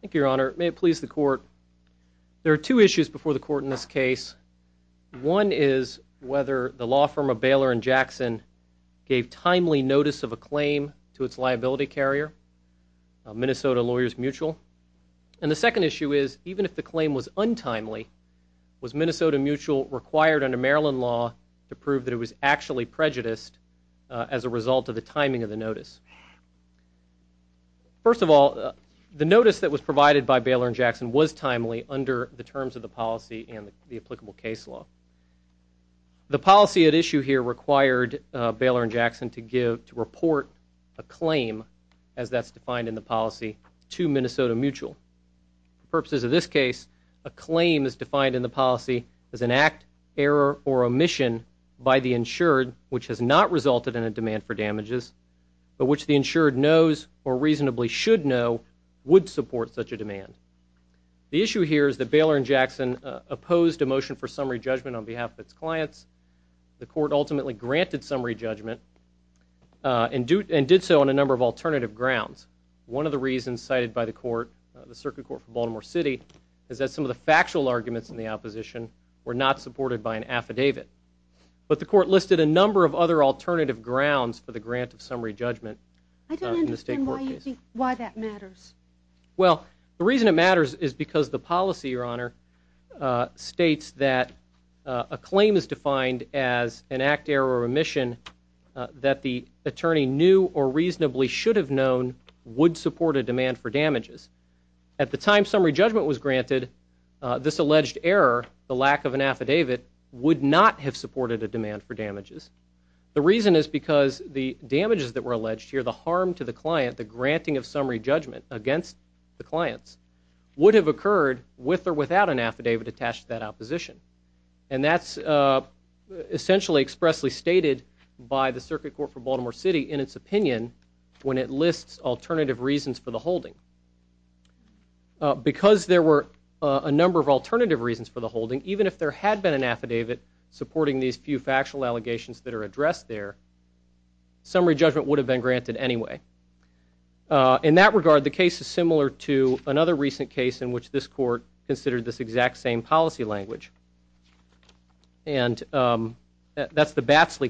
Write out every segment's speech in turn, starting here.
Thank you, Your Honor. May it please the Court, there are two issues before the Court in this case. One is whether the law firm of Baylor & Jackson gave timely notice of a claim to its liability carrier, Minnesota Lawyers Mutual. And the second issue is, even if the claim was untimely, was Minnesota Mutual required under Maryland law to prove that it was actually prejudiced as a result of the timing of the notice. First of all, the notice that was provided by Baylor & Jackson was timely under the terms of the policy and the applicable case law. The policy at issue here required Baylor & Jackson to give, to report a claim, as that's defined in the policy, to Minnesota Mutual. For purposes of this case, a claim is defined in the policy as an act, error, or omission by the insured which has not resulted in a demand for damages, but which the insured knows or reasonably should know would support such a demand. The issue here is that Baylor & Jackson opposed a motion for summary judgment on behalf of its clients. The Court ultimately granted summary judgment and did so on a number of alternative grounds. One of the reasons cited by the Court, the Circuit Court for Baltimore City, is that some of the factual arguments in the opposition were not supported by an affidavit. But the Court listed a number of other alternative grounds for the grant of summary judgment in the state court case. I don't understand why you think, why that matters. Well, the reason it matters is because the policy, Your Honor, states that a claim is defined as an act, error, or omission that the attorney knew or reasonably should have known would support a demand for damages. At the time summary judgment was granted, this alleged error, the lack of an affidavit, would not have supported a demand for damages. The reason is because the damages that were alleged here, the harm to the client, the granting of summary judgment against the clients, would have occurred with or without an affidavit attached to that opposition. And that's essentially expressly stated by the Circuit Court for Baltimore City, lists alternative reasons for the holding. Because there were a number of alternative reasons for the holding, even if there had been an affidavit supporting these few factual allegations that are addressed there, summary judgment would have been granted anyway. In that regard, the case is similar to another recent case in which this Court considered this exact same policy language. And that's the Batsley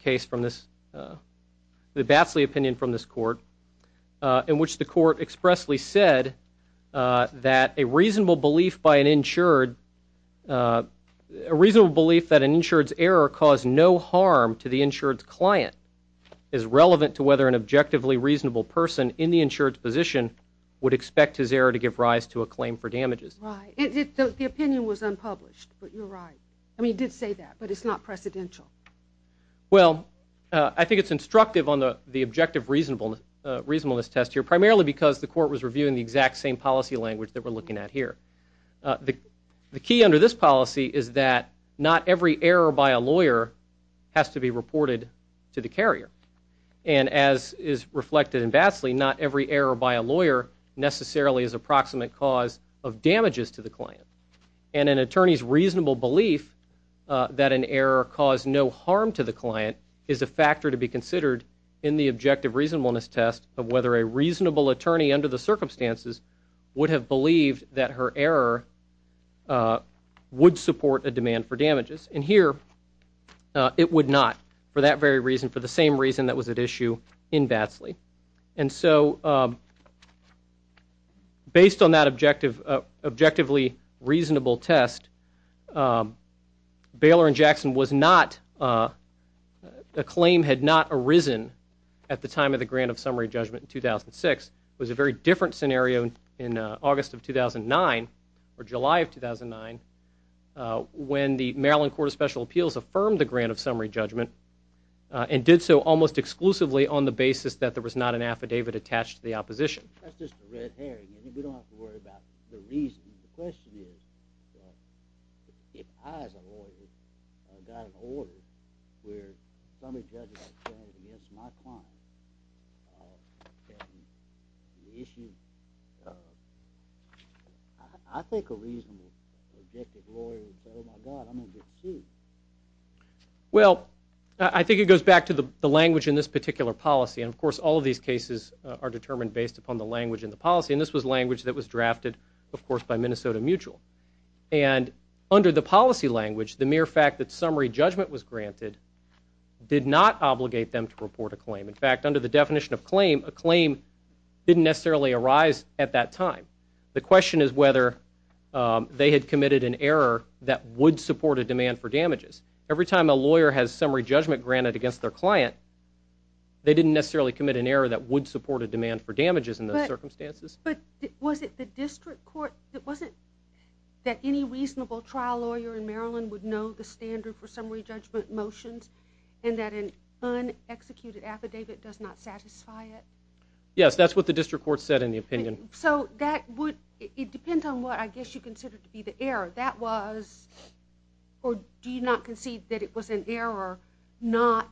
case from this, the in which the Court expressly said that a reasonable belief by an insured, a reasonable belief that an insured's error caused no harm to the insured's client is relevant to whether an objectively reasonable person in the insured's position would expect his error to give rise to a claim for damages. Right. The opinion was unpublished, but you're right. I mean it did say that, but it's not precedential. Well, I think it's instructive on the objective reasonableness test here, primarily because the Court was reviewing the exact same policy language that we're looking at here. The key under this policy is that not every error by a lawyer has to be reported to the carrier. And as is reflected in Batsley, not every error by a lawyer necessarily is approximate cause of damages to the client. And an attorney's reasonable belief that an error caused no harm to the client is a factor to be considered in the objective reasonableness test of whether a reasonable attorney under the circumstances would have believed that her error would support a demand for damages. And here, it would not for that very reason, for the same reason that was at issue in Batsley. And so, based on that objective, objectively reasonable test, Baylor and Jackson was not, a claim had not arisen at the time of the grant of summary judgment in 2006. It was a very different scenario in August of 2009, or July of 2009, when the Maryland Court of Special Appeals affirmed the grant of summary judgment and did so almost exclusively on the basis that there was not an affidavit attached to the opposition. That's just a red herring. We don't have to worry about the reason. The question is, if I, as a lawyer, got an order where summary judgment was against my client, and the issue, I think a reasonable, objective lawyer would say, oh my God, I'm going to get sued. Well, I think it goes back to the language in this particular policy. And of course, all of these cases are determined based upon the language in the policy. And this was language that was drafted, of course, by Minnesota Mutual. And under the policy language, the mere fact that summary judgment was granted did not obligate them to report a claim. In fact, under the definition of claim, a claim didn't necessarily arise at that time. The question is whether they had committed an error that would support a demand for damages. Every time a lawyer has summary judgment granted against their client, they didn't necessarily commit an error that would support a demand for damages in those circumstances. But was it the district court, it wasn't that any reasonable trial lawyer in Maryland would know the standard for summary judgment motions, and that an un-executed affidavit does not satisfy it? Yes, that's what the district court said in the opinion. So that would, it depends on what, I guess, you consider to be the error. That was, or do you not concede that it was an error not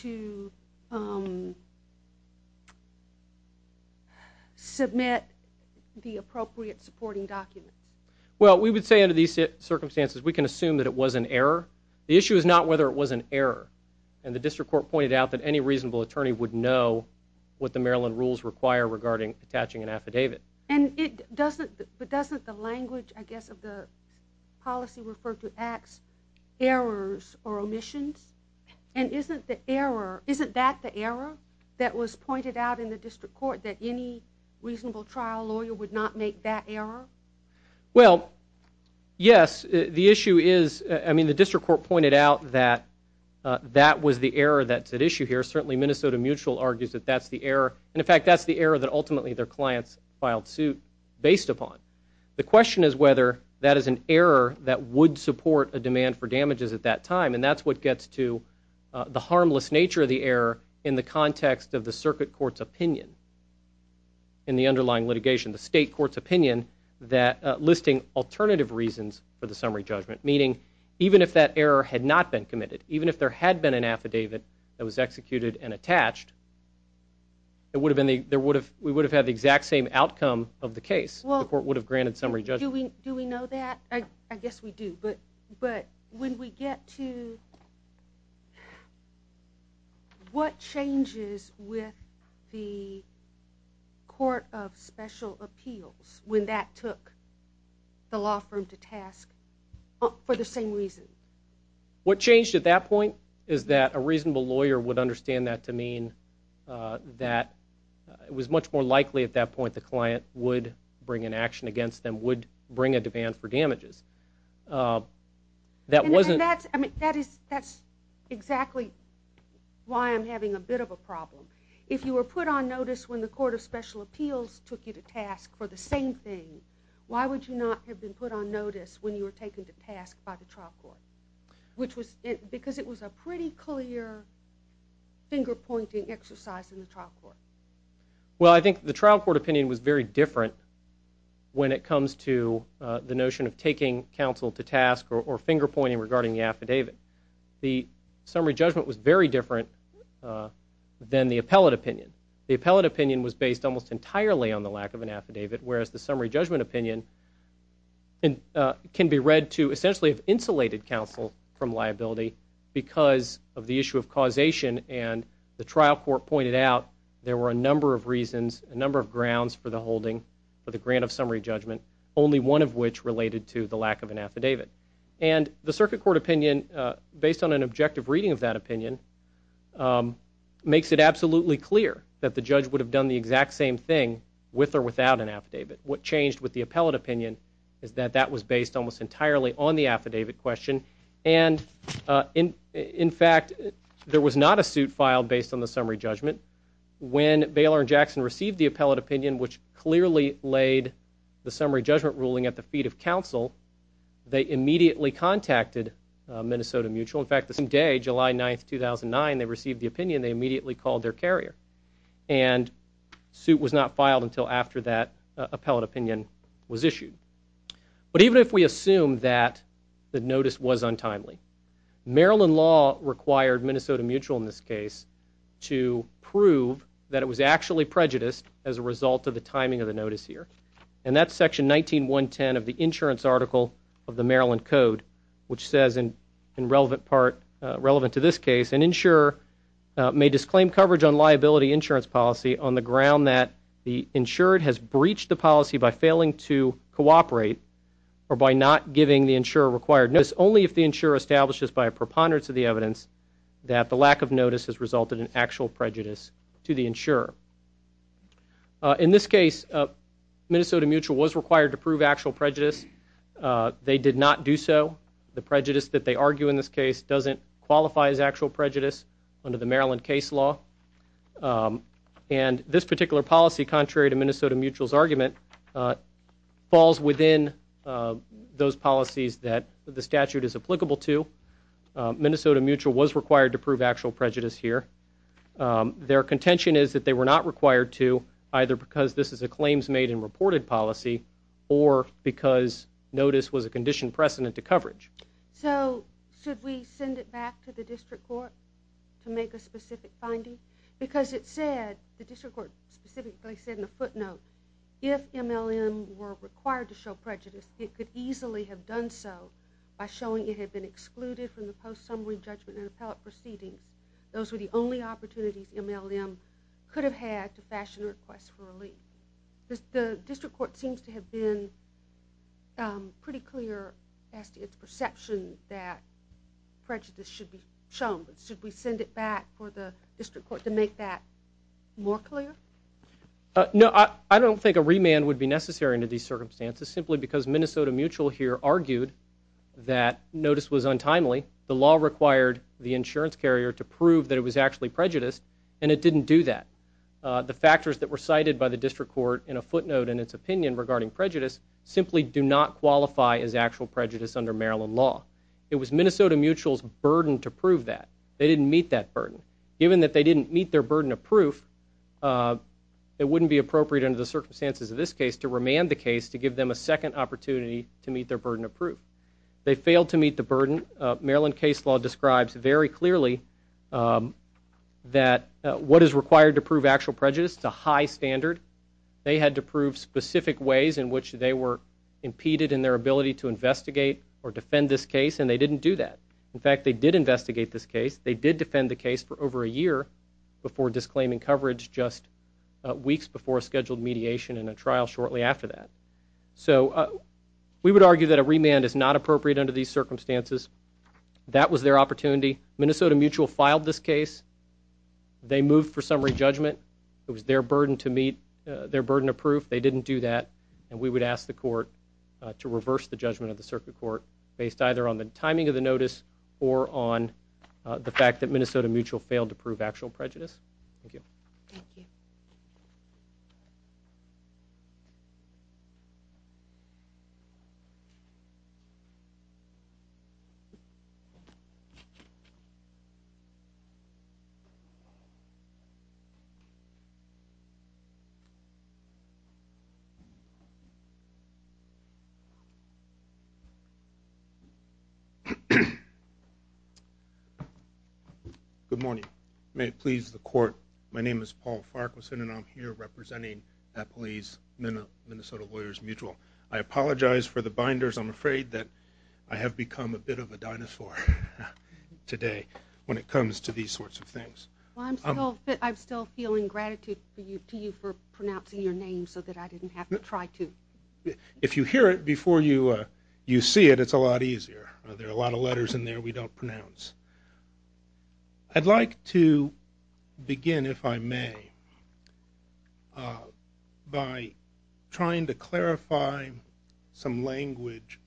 to submit an affidavit? Well, we would say under these circumstances we can assume that it was an error. The issue is not whether it was an error. And the district court pointed out that any reasonable attorney would know what the Maryland rules require regarding attaching an affidavit. And it doesn't, but doesn't the language, I guess, of the policy refer to acts, errors or omissions? And isn't the error, isn't that the error that was pointed out in the district court, that any reasonable trial lawyer would not make that error? Well, yes, the issue is, I mean the district court pointed out that that was the error that's at issue here. Certainly Minnesota Mutual argues that that's the error, and in fact that's the error that ultimately their clients filed suit based upon. The question is whether that is an error that would support a demand for damages at that time, and that's what gets to the harmless nature of the error in the context of the circuit court's opinion in the underlying litigation, the state court's opinion that listing alternative reasons for the summary judgment, meaning even if that error had not been committed, even if there had been an affidavit that was executed and attached, we would have had the exact same outcome of the case. The court would have granted summary judgment. Do we know that? I guess we do, but when we get to, what changes with the Court of Special Appeals when that took the law firm to task for the same reason? What changed at that point is that a reasonable lawyer would understand that to mean that it was much more likely at that point the client would bring an action against them, would bring a demand for damages. That wasn't And that's, I mean, that's exactly why I'm having a bit of a problem. If you were put on notice when the Court of Special Appeals took you to task for the same thing, why would you not have been put on notice when you were taken to task by the trial court? Which was, it was a pretty clear finger-pointing exercise in the trial court. Well I think the trial court opinion was very different when it comes to the notion of taking counsel to task or finger-pointing regarding the affidavit. The summary judgment was very different than the appellate opinion. The appellate opinion was based almost entirely on the lack of an affidavit, whereas the summary judgment opinion can be read to essentially have insulated counsel from liability because of the issue of causation and the trial court pointed out there were a number of reasons, a number of grounds for the holding for the grant of summary judgment, only one of which related to the lack of an affidavit. And the circuit court opinion, based on an objective reading of that opinion, makes it absolutely clear that the judge would have done the exact same thing with or without an affidavit. What was based almost entirely on the affidavit question. And in fact, there was not a suit filed based on the summary judgment. When Baylor and Jackson received the appellate opinion, which clearly laid the summary judgment ruling at the feet of counsel, they immediately contacted Minnesota Mutual. In fact, the same day, July 9, 2009, they received the opinion, they immediately called their carrier. And suit was not filed until after that appellate opinion was issued. But even if we assume that the notice was untimely, Maryland law required Minnesota Mutual in this case to prove that it was actually prejudiced as a result of the timing of the notice here. And that's section 19.110 of the insurance article of the Maryland Code, which says in relevant part, relevant to this case, an insurer may disclaim coverage on liability insurance policy on the ground that the insured has breached the policy by failing to cooperate or by not giving the insurer required notice only if the insurer establishes by a preponderance of the evidence that the lack of notice has resulted in actual prejudice to the insurer. In this case, Minnesota Mutual was required to prove actual prejudice. They did not do so. The prejudice that they argue in this case doesn't qualify as actual prejudice under the Maryland case law. And this particular policy, contrary to Minnesota Mutual's argument, falls within those policies that the statute is applicable to. Minnesota Mutual was required to prove actual prejudice here. Their contention is that they were not required to, either because this is a claims made and reported policy or because notice was a conditioned precedent to coverage. So, should we send it back to the district court to make a specific finding? Because it said, the district court specifically said in a footnote, if MLM were required to show prejudice, it could easily have done so by showing it had been excluded from the post-summary judgment and appellate proceedings. Those were the only opportunities MLM could have to fashion a request for relief. The district court seems to have been pretty clear as to its perception that prejudice should be shown. Should we send it back for the district court to make that more clear? No, I don't think a remand would be necessary under these circumstances, simply because Minnesota Mutual here argued that notice was untimely. The law required the insurance carrier to prove that it was actually prejudiced, and it didn't do that. The factors that were cited by the district court in a footnote in its opinion regarding prejudice simply do not qualify as actual prejudice under Maryland law. It was Minnesota Mutual's burden to prove that. They didn't meet that burden. Given that they didn't meet their burden of proof, it wouldn't be appropriate under the circumstances of this case to remand the case to give them a second opportunity to meet their burden of proof. They failed to meet the burden Maryland case law describes very clearly that what is required to prove actual prejudice is a high standard. They had to prove specific ways in which they were impeded in their ability to investigate or defend this case, and they didn't do that. In fact, they did investigate this case. They did defend the case for over a year before disclaiming coverage just weeks before a scheduled mediation and a trial shortly after that. So we would argue that a remand is not appropriate under these circumstances. That was their opportunity. Minnesota Mutual filed this case. They moved for summary judgment. It was their burden to meet, their burden of proof. They didn't do that, and we would ask the court to reverse the judgment of the circuit court based either on the timing of the notice or on the fact that Minnesota Mutual failed to prove actual prejudice. Thank you. Good morning. May it please the court. My name is Paul Farquharson, and I'm here representing Appalese Minnesota Lawyers Mutual. I apologize for the binders. I'm afraid that I have become a bit of a dinosaur today when it comes to these sorts of things. I'm still feeling gratitude to you for pronouncing your name so that I didn't have to try to. If you hear it before you see it, it's a lot easier. There are a lot of letters in there we don't pronounce. I'd like to begin, if I may, by trying to clarify some language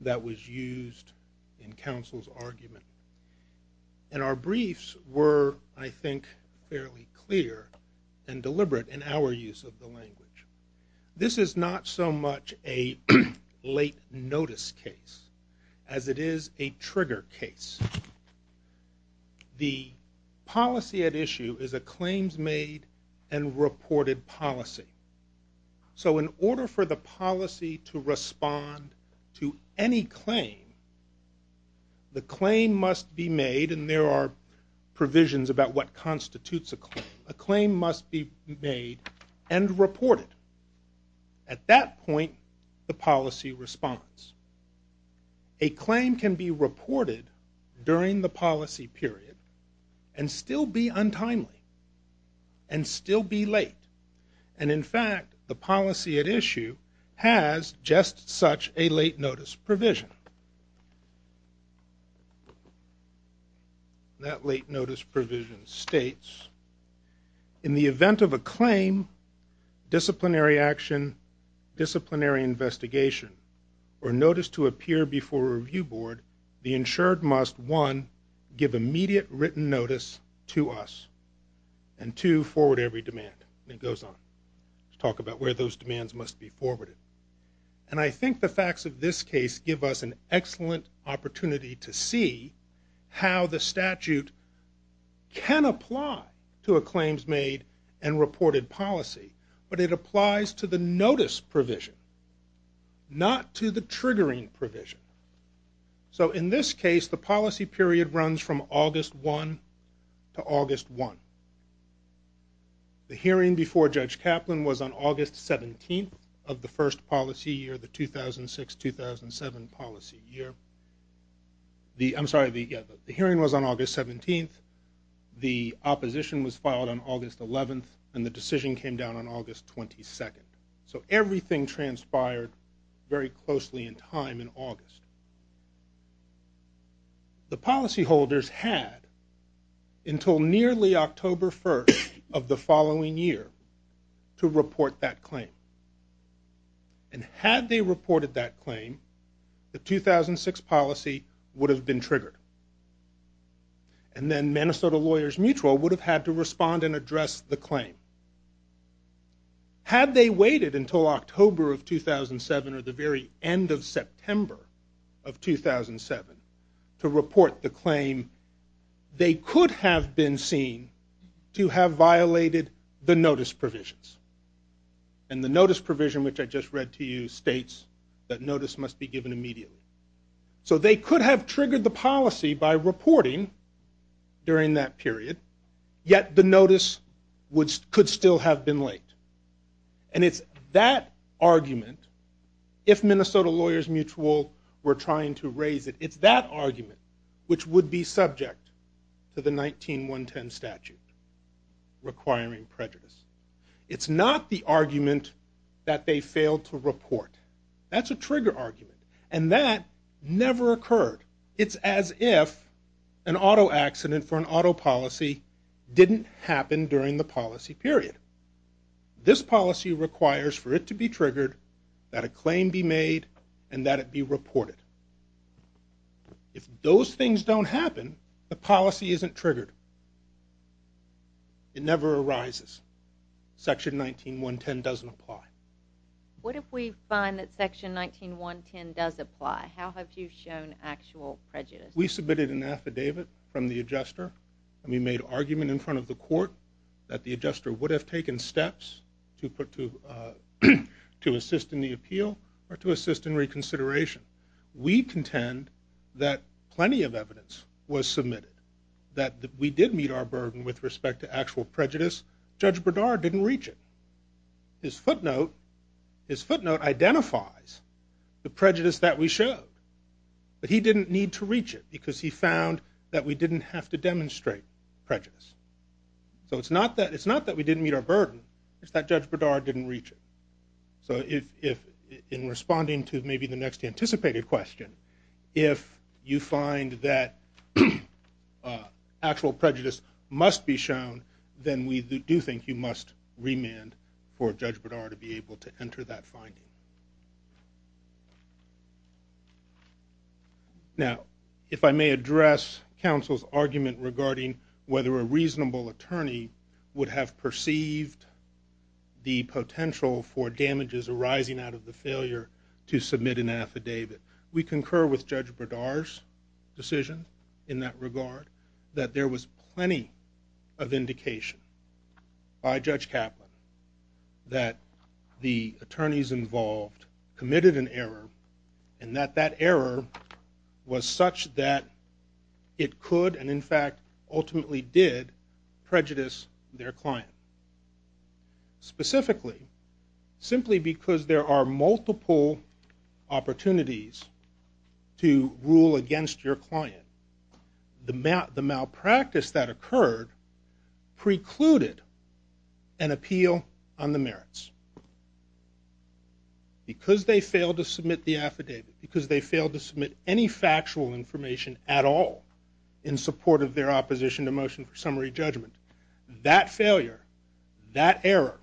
that was used in counsel's argument. And our briefs were, I think, fairly clear and deliberate in our use of the language. This is not so much a late notice case as it is a trigger case. The policy at issue is a claims made and reported policy. So in order for the policy to respond to any claim, the claim must be made, and there are provisions about what constitutes a claim. A claim must be made and reported. At that point, the policy responds. A claim can be reported during the policy period and still be untimely and still be late. And in fact, the policy at issue has just such a late notice provision. That late notice provision states, in the event of a claim, disciplinary action, disciplinary investigation, or notice to appear before a review board, the insured must, one, give immediate written notice to us, and two, forward every demand. And it goes on. Let's talk about where those demands must be forwarded. And I think the facts of this case give us an excellent opportunity to see how the statute can apply to a claims made and reported policy, but it applies to the notice provision, not to the triggering provision. So in this case, the policy period runs from August 1 to August 1. The hearing before Judge Kaplan was on August 17 of the first policy year, the 2006-2007 policy year. I'm sorry, the hearing was on August 17. The opposition was filed on August 11, and the decision came down on August 22. So everything transpired very closely in time in August. The policyholders had until nearly October 1 of the following year to report that claim. And had they reported that claim, the 2006 policy would have been triggered. And then Minnesota Lawyers Mutual would have had to respond and address the claim. Had they waited until October of 2007 or the very end of September of 2007 to report the claim, they could have been seen to have violated the notice provisions. And the notice provision, which I just read to you, states that notice must be given immediately. So they could have And it's that argument, if Minnesota Lawyers Mutual were trying to raise it, it's that argument which would be subject to the 1910 statute requiring prejudice. It's not the argument that they failed to report. That's a trigger argument. And that never occurred. It's as if an auto accident for an auto policy didn't happen during the policy period. This policy requires for it to be triggered, that a claim be made, and that it be reported. If those things don't happen, the policy isn't triggered. It never arises. Section 19110 doesn't apply. What if we find that section 19110 does apply? How have you shown actual prejudice? We submitted an affidavit from the adjuster, and we made an argument in taking steps to assist in the appeal or to assist in reconsideration. We contend that plenty of evidence was submitted that we did meet our burden with respect to actual prejudice. Judge Berdard didn't reach it. His footnote identifies the prejudice that we showed. But he didn't need to reach it because he found that we didn't have to demonstrate prejudice. So it's not that we didn't meet our burden. It's that Judge Berdard didn't reach it. So in responding to maybe the next anticipated question, if you find that actual prejudice must be shown, then we do think you must remand for Judge Berdard to be able to enter that finding. Now, if I may address counsel's argument regarding whether a reasonable attorney would have perceived the potential for damages arising out of the failure to submit an affidavit. We concur with Judge Berdard's decision in that regard, that there was plenty of indication by Judge Kaplan that the attorneys involved in the case committed an error and that that error was such that it could and in fact ultimately did prejudice their client. Specifically, simply because there are multiple opportunities to rule against your client, the malpractice that occurred precluded an appeal on the merits. Because they failed to submit the affidavit, because they failed to submit any factual information at all in support of their opposition to motion for summary judgment, that failure, that error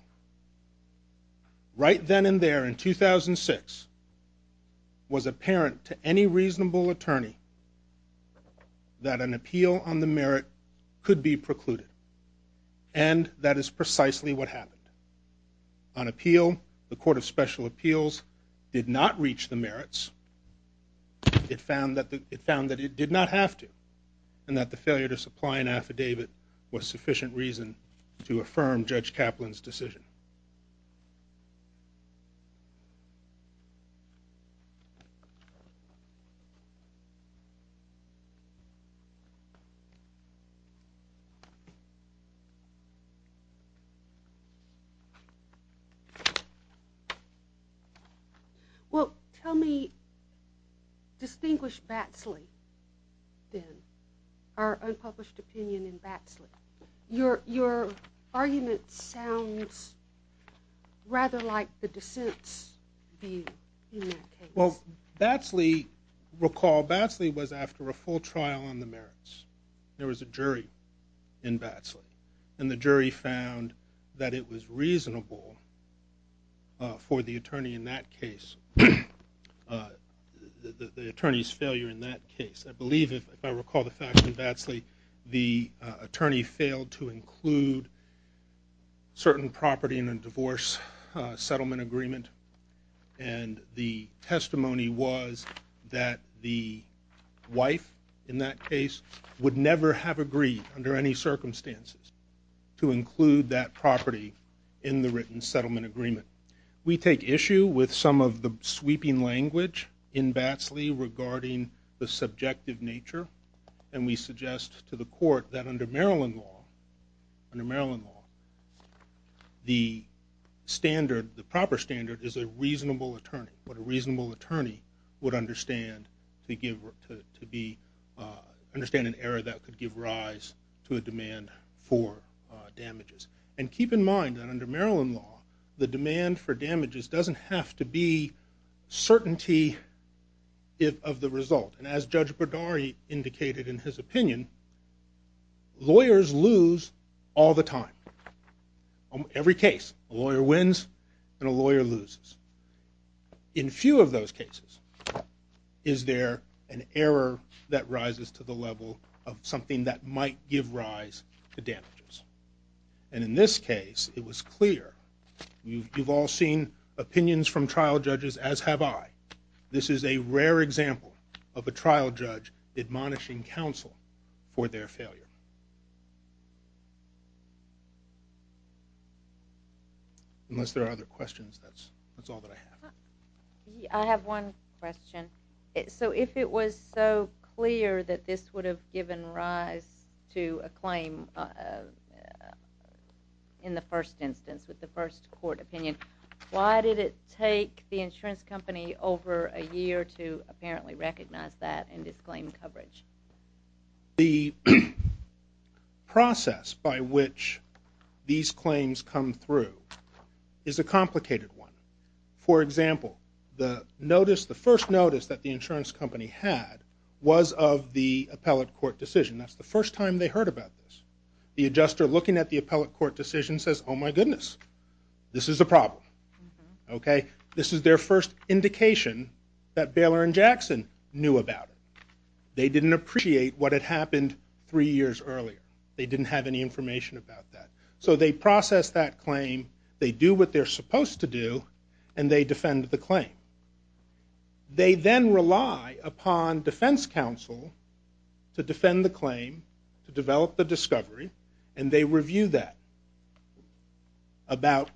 right then and there in 2006 was apparent to any reasonable attorney that an appeal on the merit could be precluded. And that is precisely what happened. On appeal, the Court of Special Appeals did not reach the merits. It found that it did not have to and that the failure to supply an affidavit was sufficient reason to affirm Judge Kaplan's decision. Well, tell me, distinguish Batsley then, our unpublished opinion in Batsley. Your argument sounds rather like the dissent's view in that case. Well, Batsley, recall Batsley was after a full trial on the merits. There was a jury in Batsley and the jury found that it was reasonable for the attorney in that case, the attorney's failure in that case. I believe if I recall the facts in Batsley, the attorney failed to include certain property in a divorce settlement agreement. And the testimony was that the wife in that case would never have agreed under any circumstances to include that property in the written settlement agreement. We take issue with some of the sweeping language in Batsley regarding the subjective nature and we suggest to the court that under Maryland law, under Maryland law, the standard, the proper standard is a reasonable attorney. What a reasonable attorney would understand to give, to be, understand an error that could give rise to a demand for damages. And keep in mind that under to be certainty of the result. And as Judge Berdari indicated in his opinion, lawyers lose all the time. On every case, a lawyer wins and a lawyer loses. In few of those cases is there an error that rises to the level of something that might give rise to damages. And in this case, it was clear. You've all seen opinions from trial judges as have I. This is a rare example of a trial judge admonishing counsel for their failure. Unless there are other questions, that's all that I have. I have one question. So if it was so clear that this would have given rise to a claim, in the first instance, with the first court opinion, why did it take the insurance company over a year to apparently recognize that and disclaim coverage? The process by which these claims come through is a complicated one. For example, the notice, the first notice that the insurance company had was of the appellate court decision. That's the first time they heard about this. The adjuster looking at the appellate court decision says, oh my goodness, this is a problem. This is their first indication that Baylor and Jackson knew about it. They didn't appreciate what had happened three years earlier. They didn't have any information about that. So they process that claim, they do what they're supposed to do, and they defend the claim. They then rely upon defense counsel to defend the claim, to develop the discovery, and they review that. About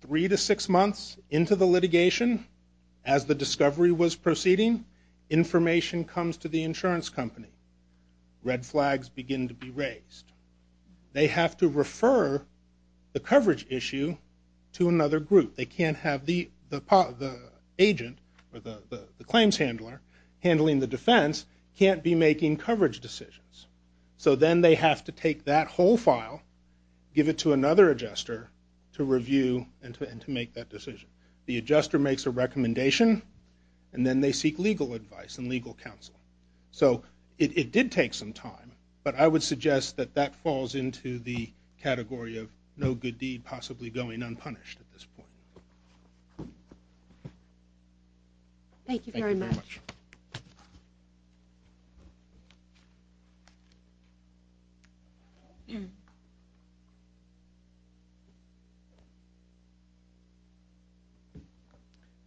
three to six months into the litigation, as the discovery was proceeding, information comes to the insurance company. Red flags begin to be raised. They have to refer the coverage issue to another group. They can't have the agent or the claims handler handling the defense can't be making coverage decisions. So then they have to take that whole file, give it to another adjuster to review and to make that decision. The adjuster makes a recommendation, and then they seek legal advice and legal counsel. So it did take some time, but I would suggest that that falls into the category of no good deed, possibly going unpunished at this point. Thank you very much. Your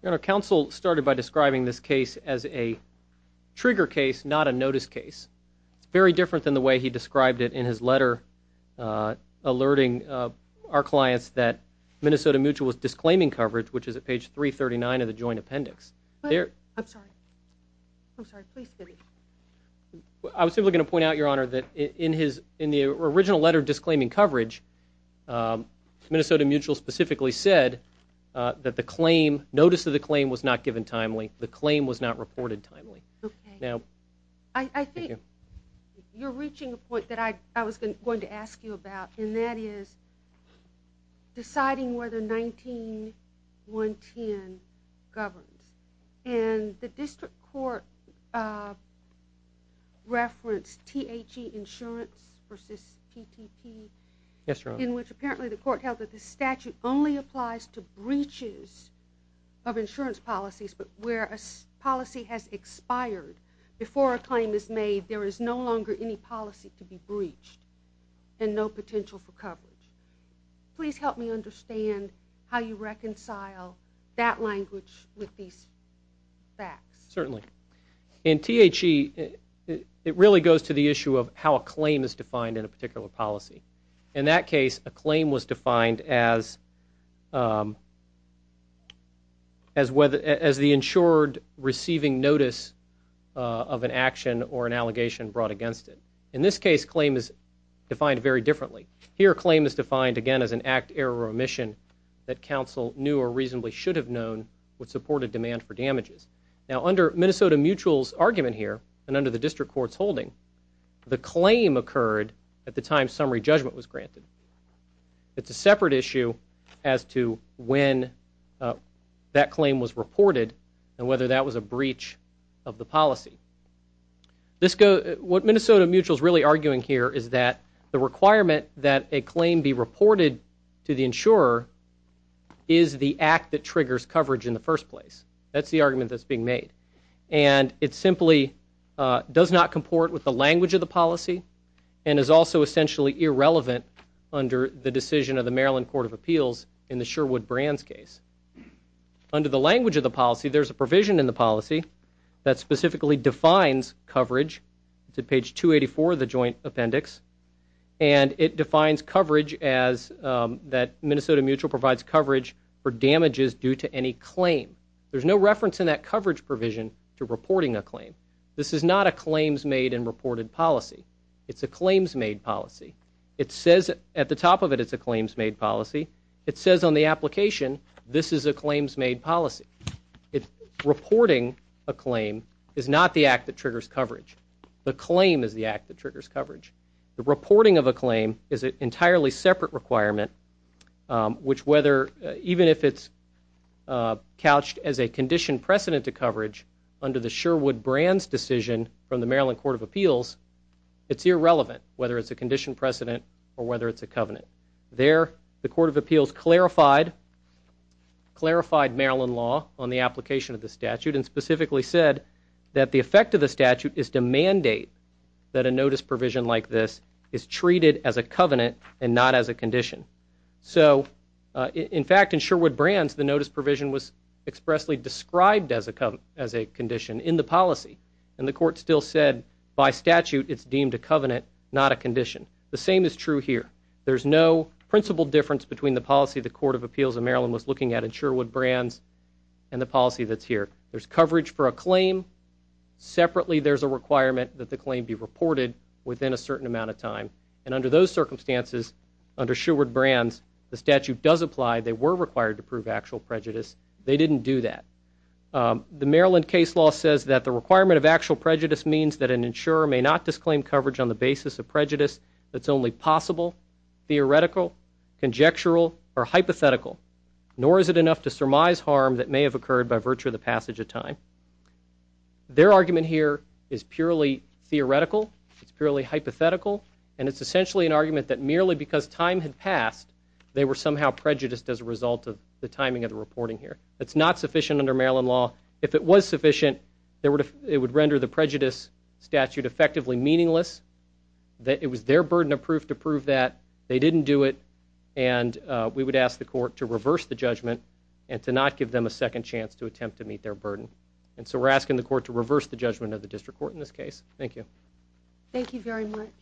Honor, counsel started by describing this case as a trigger case, not a notice case. It's very different than the way he described it in his letter alerting our clients that Minnesota Mutual was disclaiming coverage, which is at page 339 of the joint appendix. I was simply going to point out, Your Honor, that in the original letter disclaiming coverage, Minnesota Mutual specifically said that the notice of the claim was not given timely. The claim was not reported timely. I think you're reaching a point that I was going to ask you about, and that is deciding whether 19-110 governs. And the district court referenced THE insurance versus TTP, in which apparently the court held that the statute only policy has expired. Before a claim is made, there is no longer any policy to be breached and no potential for coverage. Please help me understand how you reconcile that language with these facts. Certainly. In THE, it really goes to the issue of how a claim is defined in a receiving notice of an action or an allegation brought against it. In this case, claim is defined very differently. Here, claim is defined, again, as an act, error, or omission that counsel knew or reasonably should have known would support a demand for damages. Now, under Minnesota Mutual's argument here and under the district court's holding, the claim occurred at the time summary judgment was granted. It's a separate issue as to when that claim was reported and whether that was a breach of the policy. What Minnesota Mutual is really arguing here is that the requirement that a claim be reported to the insurer is the act that triggers coverage in the first place. That's the argument that's being made. And it simply does not comport with the language of the policy and is also essentially irrelevant under the decision of the Maryland Court of Appeals in the Sherwood-Brands case. Under the language of the policy, there's a provision in the policy that specifically defines coverage. It's at page 284 of the joint appendix. And it defines coverage as that Minnesota Mutual provides coverage for damages due to any claim. There's no reference in that coverage provision to reporting a claim. This is not a claims made and reported policy. It's a claims made policy. It says at the top of it, it's a claims made policy. It says on the application, this is a claims made policy. Reporting a claim is not the act that triggers coverage. The claim is the act that triggers coverage. The reporting of a claim is an entirely separate requirement, which whether even if it's couched as a conditioned precedent to coverage under the Sherwood-Brands decision from the Maryland Court of Appeals, it's irrelevant whether it's a conditioned precedent or whether it's a covenant. There, the Court of Appeals clarified Maryland law on the application of the statute and specifically said that the effect of the statute is to mandate that a notice provision like this is treated as a covenant and not as a condition. So in fact, in Sherwood-Brands, the notice provision was expressly described as a condition in the policy. And the court still said by statute, it's deemed a covenant, not a condition. The same is true here. There's no principal difference between the policy the Court of Appeals of Maryland was looking at in Sherwood-Brands and the policy that's here. There's coverage for a claim. Separately, there's a requirement that the claim be reported within a certain amount of time. And under those circumstances, under Sherwood-Brands, the statute does apply. They were required to prove actual prejudice. They didn't do that. The Maryland case law says that the requirement of actual prejudice means that an insurer may not disclaim coverage on the basis of prejudice that's only possible, theoretical, conjectural, or hypothetical, nor is it enough to surmise harm that may have occurred by virtue of the passage of time. Their argument here is purely theoretical, it's purely hypothetical, and it's essentially an argument that merely because time had passed, they were somehow prejudiced as a result of the timing of the reporting here. That's not sufficient under Maryland law. If it was sufficient, it would render the prejudice statute effectively meaningless, that it was their burden of proof to prove that, they didn't do it, and we would ask the court to reverse the judgment and to not give them a second chance to attempt to meet their burden. And so we're asking the court to reverse the judgment of the district court in this case. Thank you. Thank you very much.